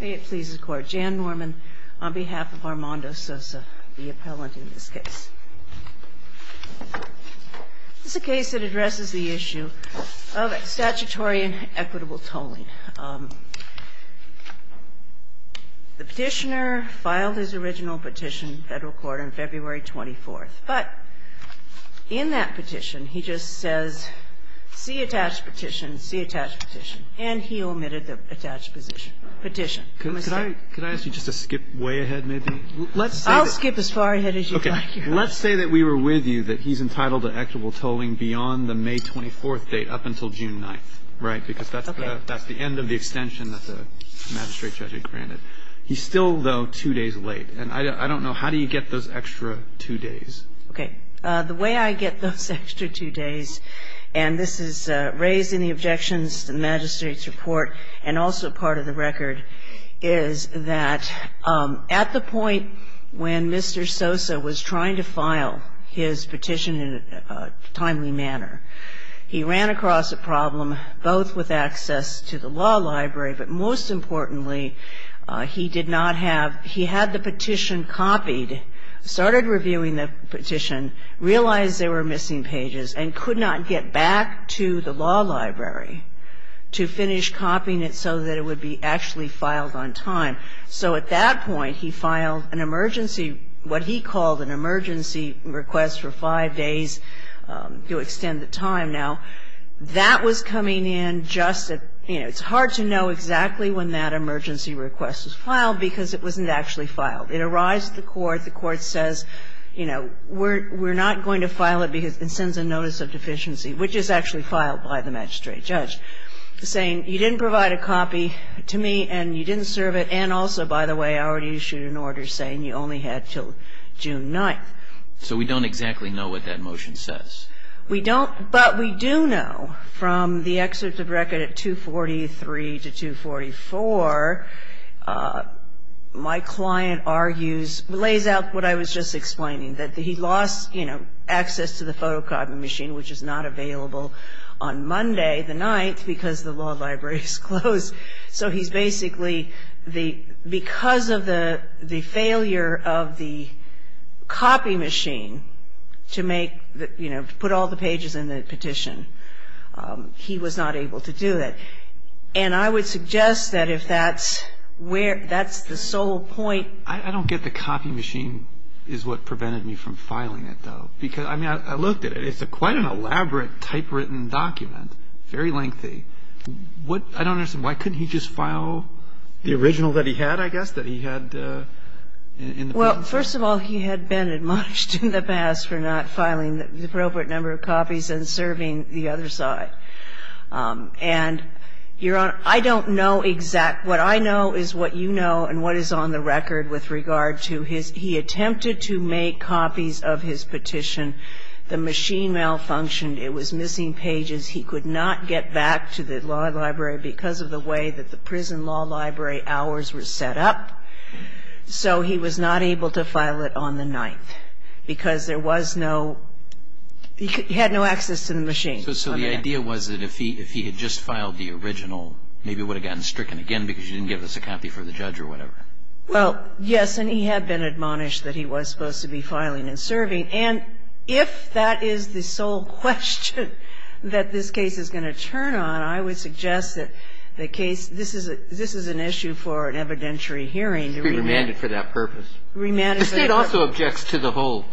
May it please the Court, Jan Norman on behalf of Armando Sossa, the appellant in this case. This is a case that addresses the issue of statutory and equitable tolling. The petitioner filed his original petition in federal court on February 24th, but in that petition he just says, see attached petition, see attached petition, and he omitted the attached petition. Could I ask you just to skip way ahead maybe? I'll skip as far ahead as you'd like. Let's say that we were with you that he's entitled to equitable tolling beyond the May 24th date up until June 9th, right? Because that's the end of the extension that the magistrate judge had granted. He's still, though, two days late. And I don't know, how do you get those extra two days? Okay. The way I get those extra two days, and this is raising the objections to the magistrate's report and also part of the record is that at the point when Mr. Sossa was trying to file his petition in a timely manner, he ran across a problem both with access to the law library, but most importantly, he did not have, he had the petition copied, started reviewing the petition, realized there were missing pages, and could not get back to the law library to finish copying it so that it would be actually filed on time. So at that point he filed an emergency, what he called an emergency request for five days to extend the time. Now, that was coming in just at, you know, It's hard to know exactly when that emergency request was filed because it wasn't actually filed. It arrives at the court, the court says, you know, we're not going to file it because it sends a notice of deficiency, which is actually filed by the magistrate judge, saying you didn't provide a copy to me and you didn't serve it, and also, by the way, I already issued an order saying you only had until June 9th. So we don't exactly know what that motion says. We don't, but we do know from the excerpt of record at 243 to 244, my client argues, lays out what I was just explaining, that he lost, you know, access to the photocopying machine, which is not available on Monday the 9th because the law library is closed. So he's basically, because of the failure of the copy machine to make, you know, to put all the pages in the petition, he was not able to do it. And I would suggest that if that's where, that's the sole point. I don't get the copy machine is what prevented me from filing it, though. Because, I mean, I looked at it. It's quite an elaborate typewritten document, very lengthy. What, I don't understand, why couldn't he just file the original that he had, I guess, that he had in the petition? Well, first of all, he had been admonished in the past for not filing the appropriate number of copies and serving the other side. And, Your Honor, I don't know exact, what I know is what you know and what is on the record with regard to his, he attempted to make copies of his petition. The machine malfunctioned. It was missing pages. He could not get back to the law library because of the way that the prison law library hours were set up. So he was not able to file it on the 9th because there was no, he had no access to the machine. So the idea was that if he had just filed the original, maybe it would have gotten stricken again because you didn't give us a copy for the judge or whatever. Well, yes, and he had been admonished that he was supposed to be filing and serving. And if that is the sole question that this case is going to turn on, I would suggest that the case, this is an issue for an evidentiary hearing to remand. To be remanded for that purpose. Remanded for that purpose. The State also objects to the whole,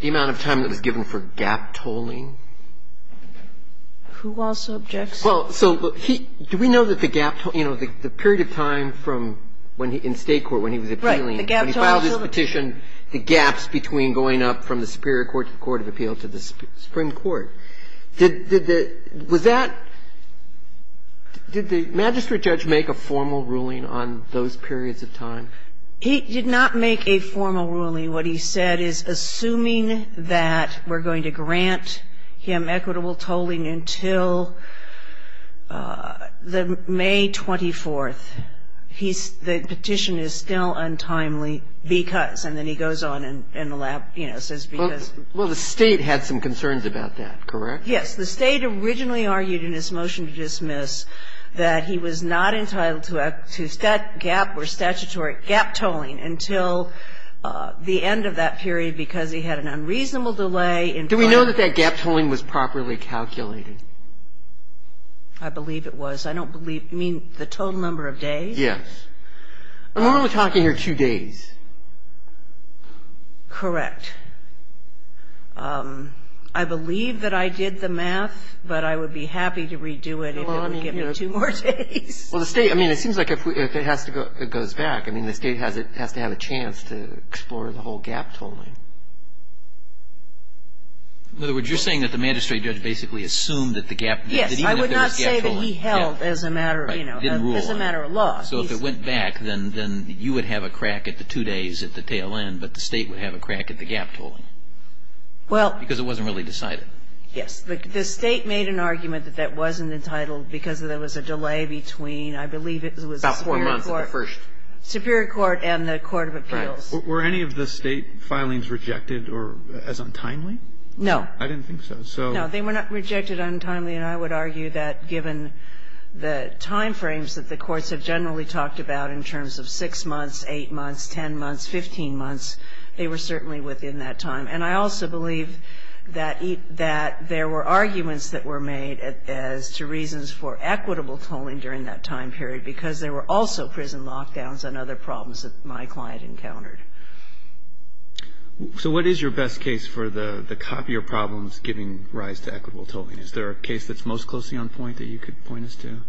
the amount of time that was given for gap tolling. Who also objects? Well, so he, do we know that the gap, you know, the period of time from when he, in State court when he was appealing. He did not make a formal ruling on those periods of time. He did not make a formal ruling. What he said is, assuming that we're going to grant him equitable tolling until May 24th, he's, the petition is still untimely because, and then he goes on in the Well, the State had some concerns about that, correct? Yes. The State originally argued in its motion to dismiss that he was not entitled to a, to gap or statutory gap tolling until the end of that period because he had an unreasonable delay. Do we know that that gap tolling was properly calculated? I believe it was. I don't believe, you mean the total number of days? Yes. We're only talking here two days. Correct. I believe that I did the math, but I would be happy to redo it if it would give me two more days. Well, the State, I mean, it seems like if it has to go, it goes back. I mean, the State has to have a chance to explore the whole gap tolling. In other words, you're saying that the magistrate judge basically assumed that the gap, that even if there was gap tolling. Yes, I would not say that he held as a matter of, you know, as a matter of law. So if it went back, then you would have a crack at the two days at the tail end, but the State would have a crack at the gap tolling. Well. Because it wasn't really decided. Yes. The State made an argument that that wasn't entitled because there was a delay between, I believe it was the Superior Court. About four months of the first. Superior Court and the Court of Appeals. Right. Were any of the State filings rejected or as untimely? No. I didn't think so. So. No, they were not rejected untimely, and I would argue that given the time frames that the courts have generally talked about in terms of six months, eight months, 10 months, 15 months, they were certainly within that time. And I also believe that there were arguments that were made as to reasons for equitable tolling during that time period because there were also prison lockdowns and other problems that my client encountered. So what is your best case for the copier problems giving rise to equitable tolling? Is there a case that's most closely on point that you could point us to?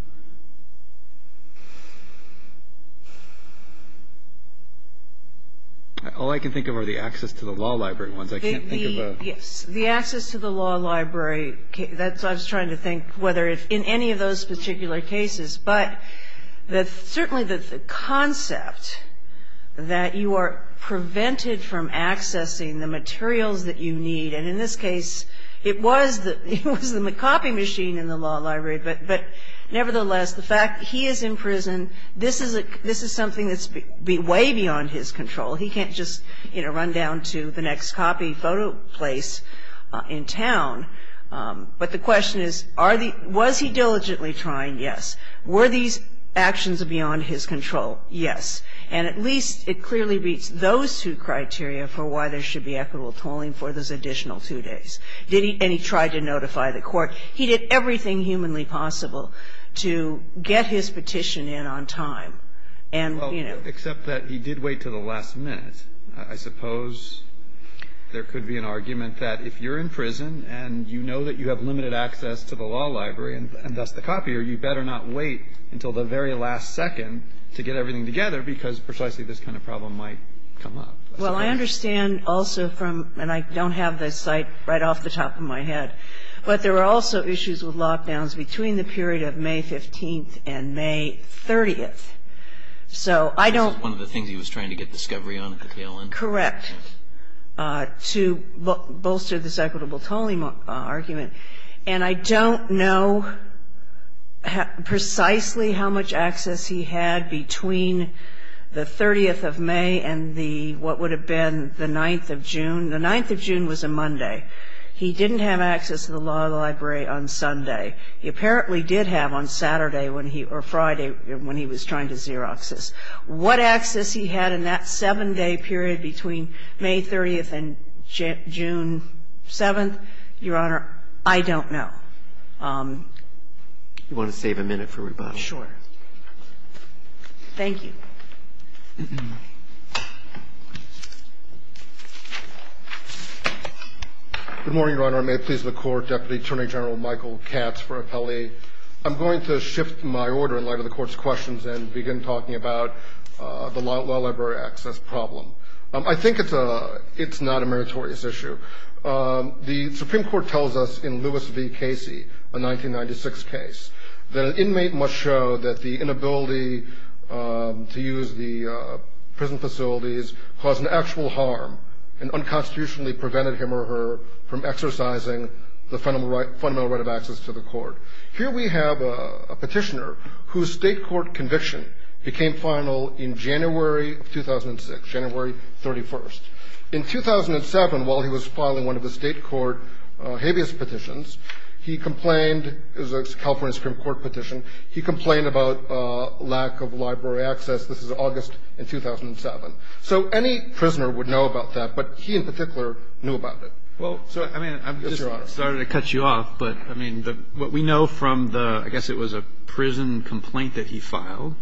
All I can think of are the access to the law library ones. I can't think of a. Yes. The access to the law library, that's what I was trying to think, whether it's in any of those particular cases. But certainly the concept that you are prevented from accessing the materials that you need. And in this case, it was the copy machine in the law library, but nevertheless, the fact that he is in prison, this is something that's way beyond his control. He can't just run down to the next copy photo place in town. But the question is, was he diligently trying? Yes. Were these actions beyond his control? Yes. And at least it clearly meets those two criteria for why there should be equitable And he tried to notify the court. He did everything humanly possible to get his petition in on time. Well, except that he did wait to the last minute. I suppose there could be an argument that if you're in prison and you know that you have limited access to the law library and thus the copier, you better not wait until the very last second to get everything together because precisely this kind of problem might come up. Well, I understand also from, and I don't have the site right off the top of my head, but there are also issues with lockdowns between the period of May 15th and May 30th. So I don't This is one of the things he was trying to get discovery on at the tail end. Correct. To bolster this equitable tolling argument. And I don't know precisely how much access he had between the 30th of May and the, what would have been the 9th of June. The 9th of June was a Monday. He didn't have access to the law library on Sunday. He apparently did have on Saturday or Friday when he was trying to Xerox this. What access he had in that 7-day period between May 30th and June 7th, Your Honor, I don't know. You want to save a minute for rebuttal? Thank you. Good morning, Your Honor. May it please the Court. Deputy Attorney General Michael Katz for Appellee. I'm going to shift my order in light of the Court's questions and begin talking about the law library access problem. I think it's not a meritorious issue. The Supreme Court tells us in Lewis v. Casey, a 1996 case, that an inmate must show that the inability to use the prison facilities caused an actual harm and unconstitutionally prevented him or her from exercising the fundamental right of access to the court. Here we have a petitioner whose state court conviction became final in January of 2006, January 31st. In 2007, while he was filing one of the state court habeas petitions, he complained, it was a California Supreme Court petition, he complained about lack of library access. This is August in 2007. So any prisoner would know about that, but he in particular knew about it. Well, I'm sorry to cut you off, but what we know from the, I guess it was a prison complaint that he filed,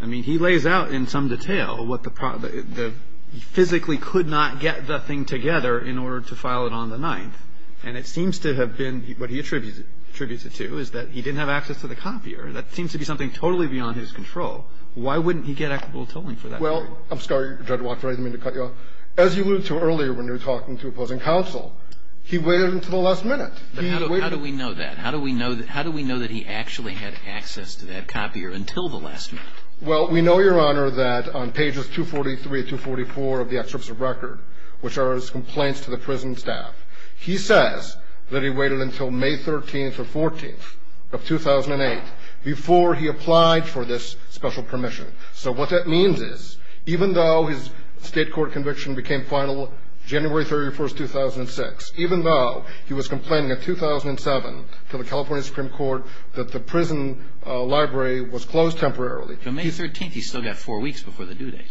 I mean, he lays out in some detail what the problem, he physically could not get the thing together in order to file it on the 9th. And it seems to have been, what he attributes it to, is that he didn't have access to the copier. That seems to be something totally beyond his control. Why wouldn't he get equitable tolling for that? Well, I'm sorry, Judge Walker, I didn't mean to cut you off. As you alluded to earlier when you were talking to opposing counsel, he waited until the last minute. How do we know that? How do we know that he actually had access to that copier until the last minute? Well, we know, Your Honor, that on pages 243 and 244 of the excerpts of record, which are his complaints to the prison staff, he says that he waited until May 13th or 14th of 2008 before he applied for this special permission. So what that means is even though his state court conviction became final January 31st, 2006, even though he was complaining in 2007 to the California Supreme Court that the prison library was closed temporarily. So May 13th, he's still got four weeks before the due date.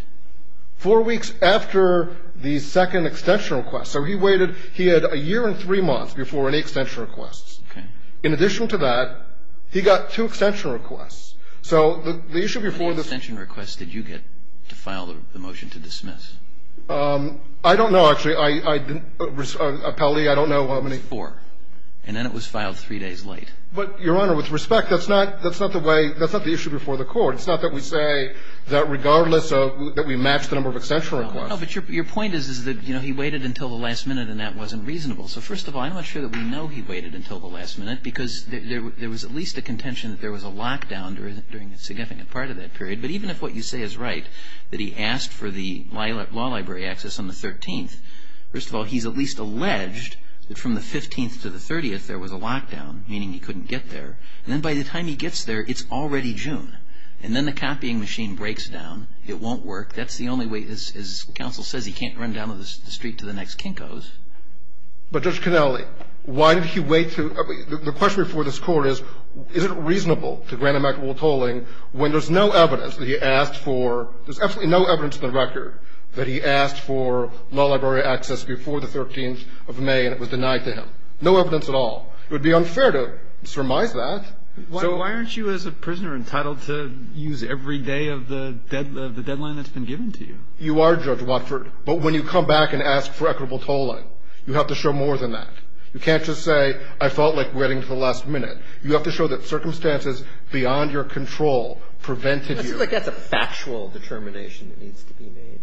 Four weeks after the second extension request. So he waited. He had a year and three months before any extension requests. Okay. In addition to that, he got two extension requests. So the issue before this ---- How many extension requests did you get to file the motion to dismiss? I don't know, actually. I didn't appellee. I don't know how many. It was four. And then it was filed three days late. But, Your Honor, with respect, that's not the way, that's not the issue before the court. It's not that we say that regardless of that we match the number of extension requests. No, but your point is that he waited until the last minute and that wasn't reasonable. So, first of all, I'm not sure that we know he waited until the last minute because there was at least a contention that there was a lockdown during a significant part of that period. But even if what you say is right, that he asked for the law library access on the 13th, first of all, he's at least alleged that from the 15th to the 30th there was a lockdown, meaning he couldn't get there. And then by the time he gets there, it's already June. And then the copying machine breaks down. It won't work. That's the only way. As counsel says, he can't run down the street to the next Kinko's. But, Judge Canelli, why did he wait to – the question before this Court is, is it reasonable to grant him equitable tolling when there's no evidence that he asked for – there's absolutely no evidence in the record that he asked for law library access before the 13th of May and it was denied to him. No evidence at all. It would be unfair to surmise that. Why aren't you as a prisoner entitled to use every day of the deadline that's been given to you? You are, Judge Watford. But when you come back and ask for equitable tolling, you have to show more than that. You can't just say, I felt like waiting until the last minute. You have to show that circumstances beyond your control prevented you. I feel like that's a factual determination that needs to be made.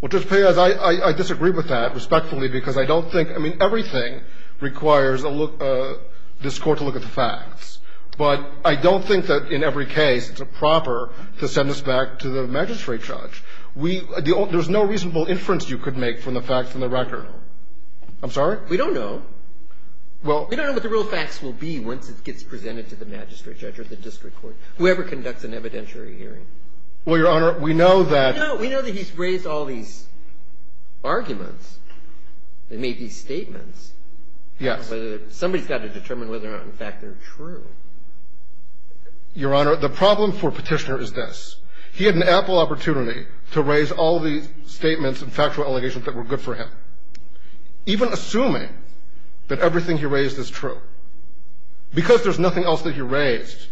Well, Judge Piaz, I disagree with that respectfully because I don't think – I don't think there's a – this Court to look at the facts. But I don't think that in every case it's proper to send this back to the magistrate judge. We – there's no reasonable inference you could make from the facts in the record. I'm sorry? We don't know. Well – We don't know what the real facts will be once it gets presented to the magistrate judge or the district court, whoever conducts an evidentiary hearing. Well, Your Honor, we know that – Somebody's got to determine whether or not, in fact, they're true. Your Honor, the problem for Petitioner is this. He had an ample opportunity to raise all the statements and factual allegations that were good for him. Even assuming that everything he raised is true, because there's nothing else that he raised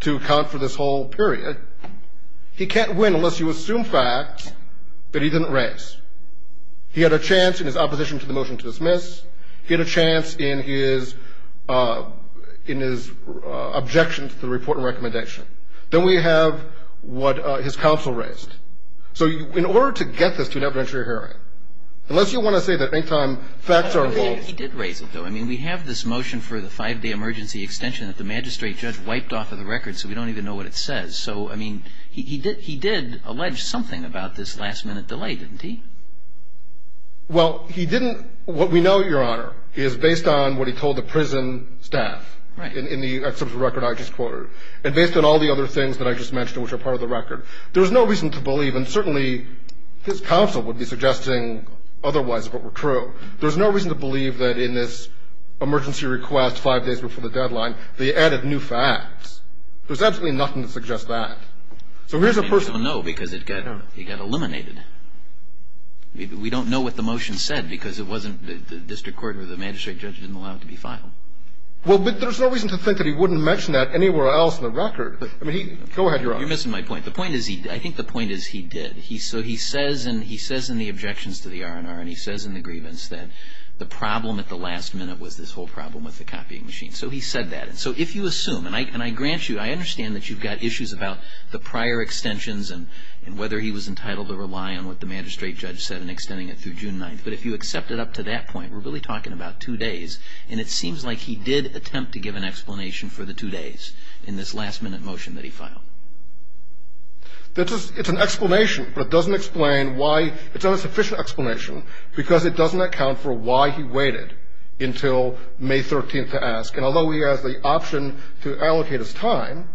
to account for this whole period, he can't win unless you assume facts that he didn't raise. He had a chance in his opposition to the motion to dismiss. He had a chance in his – in his objection to the report and recommendation. Then we have what his counsel raised. So in order to get this to an evidentiary hearing, unless you want to say that any time facts are – He did raise it, though. I mean, we have this motion for the five-day emergency extension that the magistrate judge wiped off of the record, so we don't even know what it says. So, I mean, he did – he did allege something about this last-minute delay, didn't he? Well, he didn't – what we know, Your Honor, is based on what he told the prison staff. Right. In the – that's the record I just quoted. And based on all the other things that I just mentioned, which are part of the record, there's no reason to believe – and certainly his counsel would be suggesting otherwise if it were true – there's no reason to believe that in this emergency request five days before the deadline, they added new facts. There's absolutely nothing to suggest that. So here's a person – We don't know what the motion said because it wasn't – the district court or the magistrate judge didn't allow it to be filed. Well, but there's no reason to think that he wouldn't mention that anywhere else in the record. I mean, he – go ahead, Your Honor. You're missing my point. The point is he – I think the point is he did. So he says – and he says in the objections to the R&R and he says in the grievance that the problem at the last minute was this whole problem with the copying machine. So he said that. And so if you assume – and I grant you – I understand that you've got issues about the prior extensions and whether he was entitled to rely on what the magistrate judge said in extending it through June 9th. But if you accept it up to that point, we're really talking about two days. And it seems like he did attempt to give an explanation for the two days in this last-minute motion that he filed. It's an explanation, but it doesn't explain why – it's not a sufficient explanation because it doesn't account for why he waited until May 13th to ask. And although he has the option to allocate his time,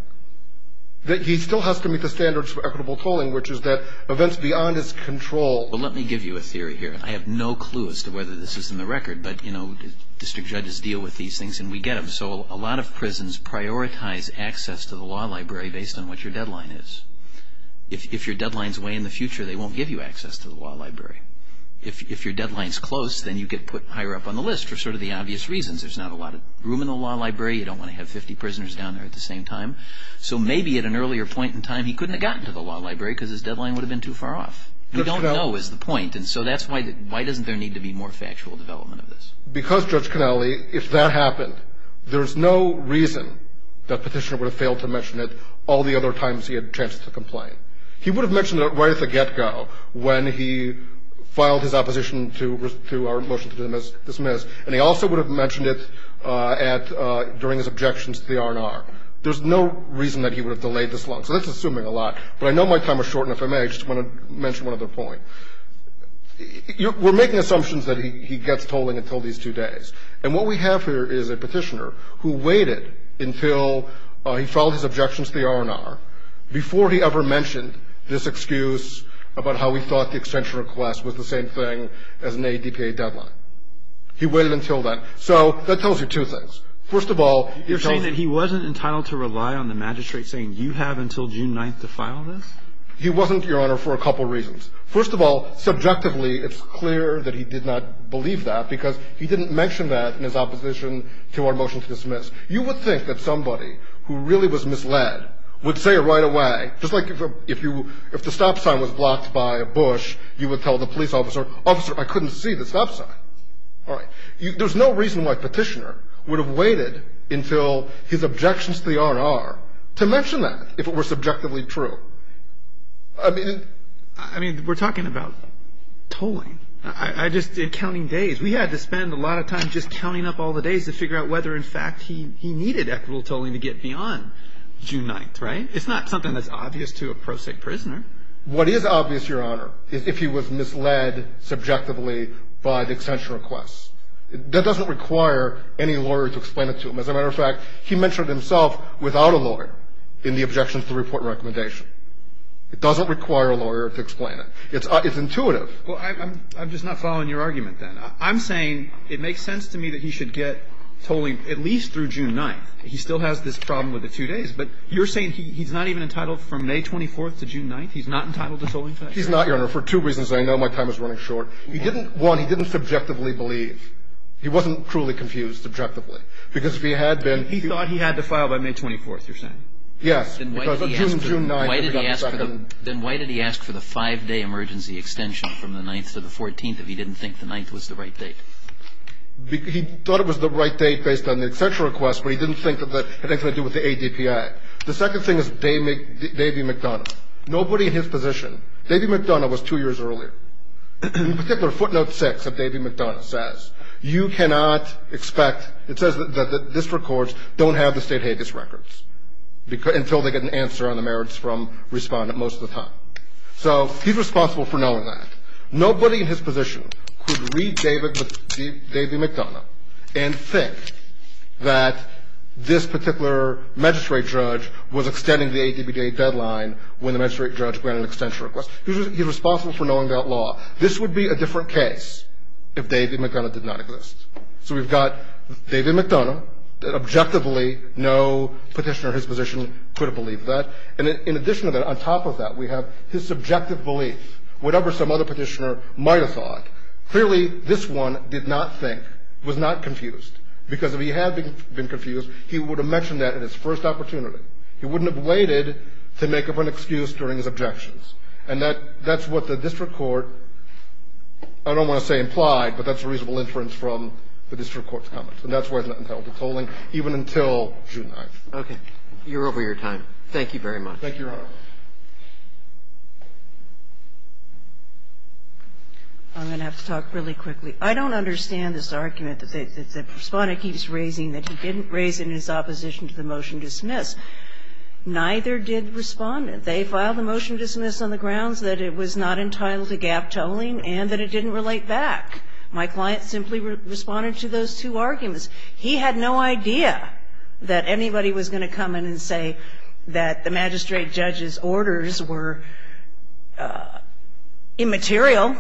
he still has to meet the standards for equitable tolling, which is that events beyond his control. Well, let me give you a theory here. I have no clue as to whether this is in the record, but, you know, district judges deal with these things and we get them. So a lot of prisons prioritize access to the law library based on what your deadline is. If your deadlines weigh in the future, they won't give you access to the law library. If your deadline's close, then you get put higher up on the list for sort of the obvious reasons. There's not a lot of room in the law library. You don't want to have 50 prisoners down there at the same time. So maybe at an earlier point in time he couldn't have gotten to the law library because his deadline would have been too far off. We don't know is the point, and so that's why – why doesn't there need to be more factual development of this? Because, Judge Canelli, if that happened, there's no reason that Petitioner would have failed to mention it all the other times he had chances to complain. He would have mentioned it right at the get-go when he filed his opposition to our motion to dismiss, and he also would have mentioned it at – during his objections to the R&R. There's no reason that he would have delayed this long. So that's assuming a lot, but I know my time is short, and if I may, I just want to mention one other point. We're making assumptions that he gets tolling until these two days, and what we have here is a Petitioner who waited until he filed his objections to the R&R, before he ever mentioned this excuse about how he thought the extension request was the same thing as an ADPA deadline. He waited until then. So that tells you two things. First of all, it tells you – You're saying that he wasn't entitled to rely on the magistrate saying, you have until June 9th to file this? He wasn't, Your Honor, for a couple reasons. First of all, subjectively, it's clear that he did not believe that because he didn't mention that in his opposition to our motion to dismiss. You would think that somebody who really was misled would say it right away, just like if the stop sign was blocked by a bush, you would tell the police officer, officer, I couldn't see the stop sign. All right. There's no reason why Petitioner would have waited until his objections to the R&R to mention that, if it were subjectively true. I mean – I mean, we're talking about tolling. I just did counting days. We had to spend a lot of time just counting up all the days to figure out whether, in fact, he needed equitable tolling to get beyond June 9th, right? It's not something that's obvious to a pro se prisoner. What is obvious, Your Honor, is if he was misled subjectively by the extension request. That doesn't require any lawyer to explain it to him. As a matter of fact, he mentioned it himself without a lawyer in the objections to the report and recommendation. It doesn't require a lawyer to explain it. It's intuitive. Well, I'm just not following your argument then. I'm saying it makes sense to me that he should get tolling at least through June 9th. He still has this problem with the two days. But you're saying he's not even entitled from May 24th to June 9th? He's not entitled to tolling today? He's not, Your Honor, for two reasons I know. My time is running short. He didn't – one, he didn't subjectively believe. He wasn't cruelly confused subjectively. Because if he had been – He thought he had to file by May 24th, you're saying? Yes. Because on June 9th – Then why did he ask for the five-day emergency extension from the 9th to the 14th if he didn't think the 9th was the right date? He thought it was the right date based on the extension request, but he didn't think that that had anything to do with the ADPI. The second thing is Davey McDonough. Nobody in his position – Davey McDonough was two years earlier. In particular, footnote 6 of Davey McDonough says, you cannot expect – it says that district courts don't have the state habeas records until they get an answer on the merits from Respondent most of the time. So he's responsible for knowing that. Nobody in his position could read Davey McDonough and think that this particular magistrate judge was extending the ADPI deadline when the magistrate judge granted an extension request. He's responsible for knowing that law. This would be a different case if Davey McDonough did not exist. So we've got Davey McDonough. Objectively, no petitioner in his position could have believed that. And in addition to that, on top of that, we have his subjective belief. Whatever some other petitioner might have thought, clearly this one did not think, was not confused. Because if he had been confused, he would have mentioned that at his first opportunity. He wouldn't have waited to make up an excuse during his objections. And that's what the district court – I don't want to say implied, but that's a reasonable inference from the district court's comments. And that's why it's not entitled to tolling even until June 9th. Roberts. You're over your time. Thank you very much. Thank you, Your Honor. I'm going to have to talk really quickly. I don't understand this argument that the Respondent keeps raising that he didn't raise it in his opposition to the motion to dismiss. Neither did Respondent. They filed the motion to dismiss on the grounds that it was not entitled to gap tolling and that it didn't relate back. My client simply responded to those two arguments. He had no idea that anybody was going to come in and say that the magistrate judge's orders were immaterial.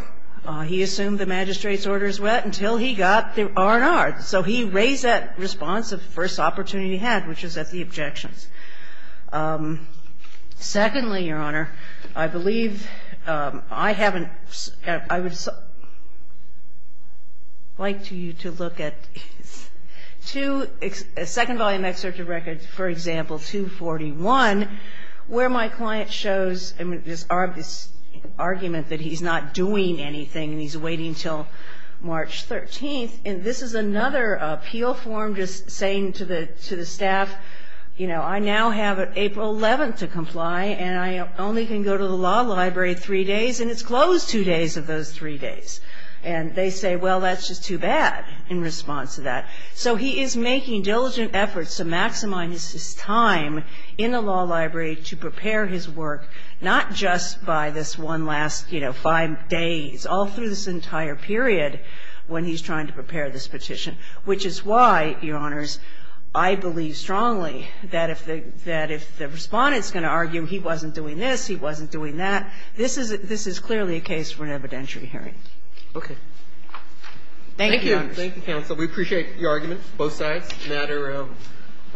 He assumed the magistrate's orders went until he got the R&R. So he raised that response at the first opportunity he had, which was at the objections. Secondly, Your Honor, I believe I haven't – I would like to you to look at the second volume excerpt of records, for example, 241, where my client shows this argument that he's not doing anything and he's waiting until March 13th. And this is another appeal form just saying to the staff, you know, I now have April 11th to comply and I only can go to the law library three days and it's closed two days of those three days. And they say, well, that's just too bad in response to that. So he is making diligent efforts to maximize his time in the law library to prepare his work, not just by this one last, you know, five days, all through this entire period when he's trying to prepare this petition, which is why, Your Honors, I believe strongly that if the Respondent's going to argue he wasn't doing this, he wasn't doing that, this is clearly a case for an evidentiary hearing. Roberts. Thank you, Your Honors. Thank you, counsel. We appreciate your arguments, both sides. The matter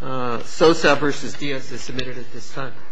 of Sosa v. Diaz is submitted at this time. Thank you.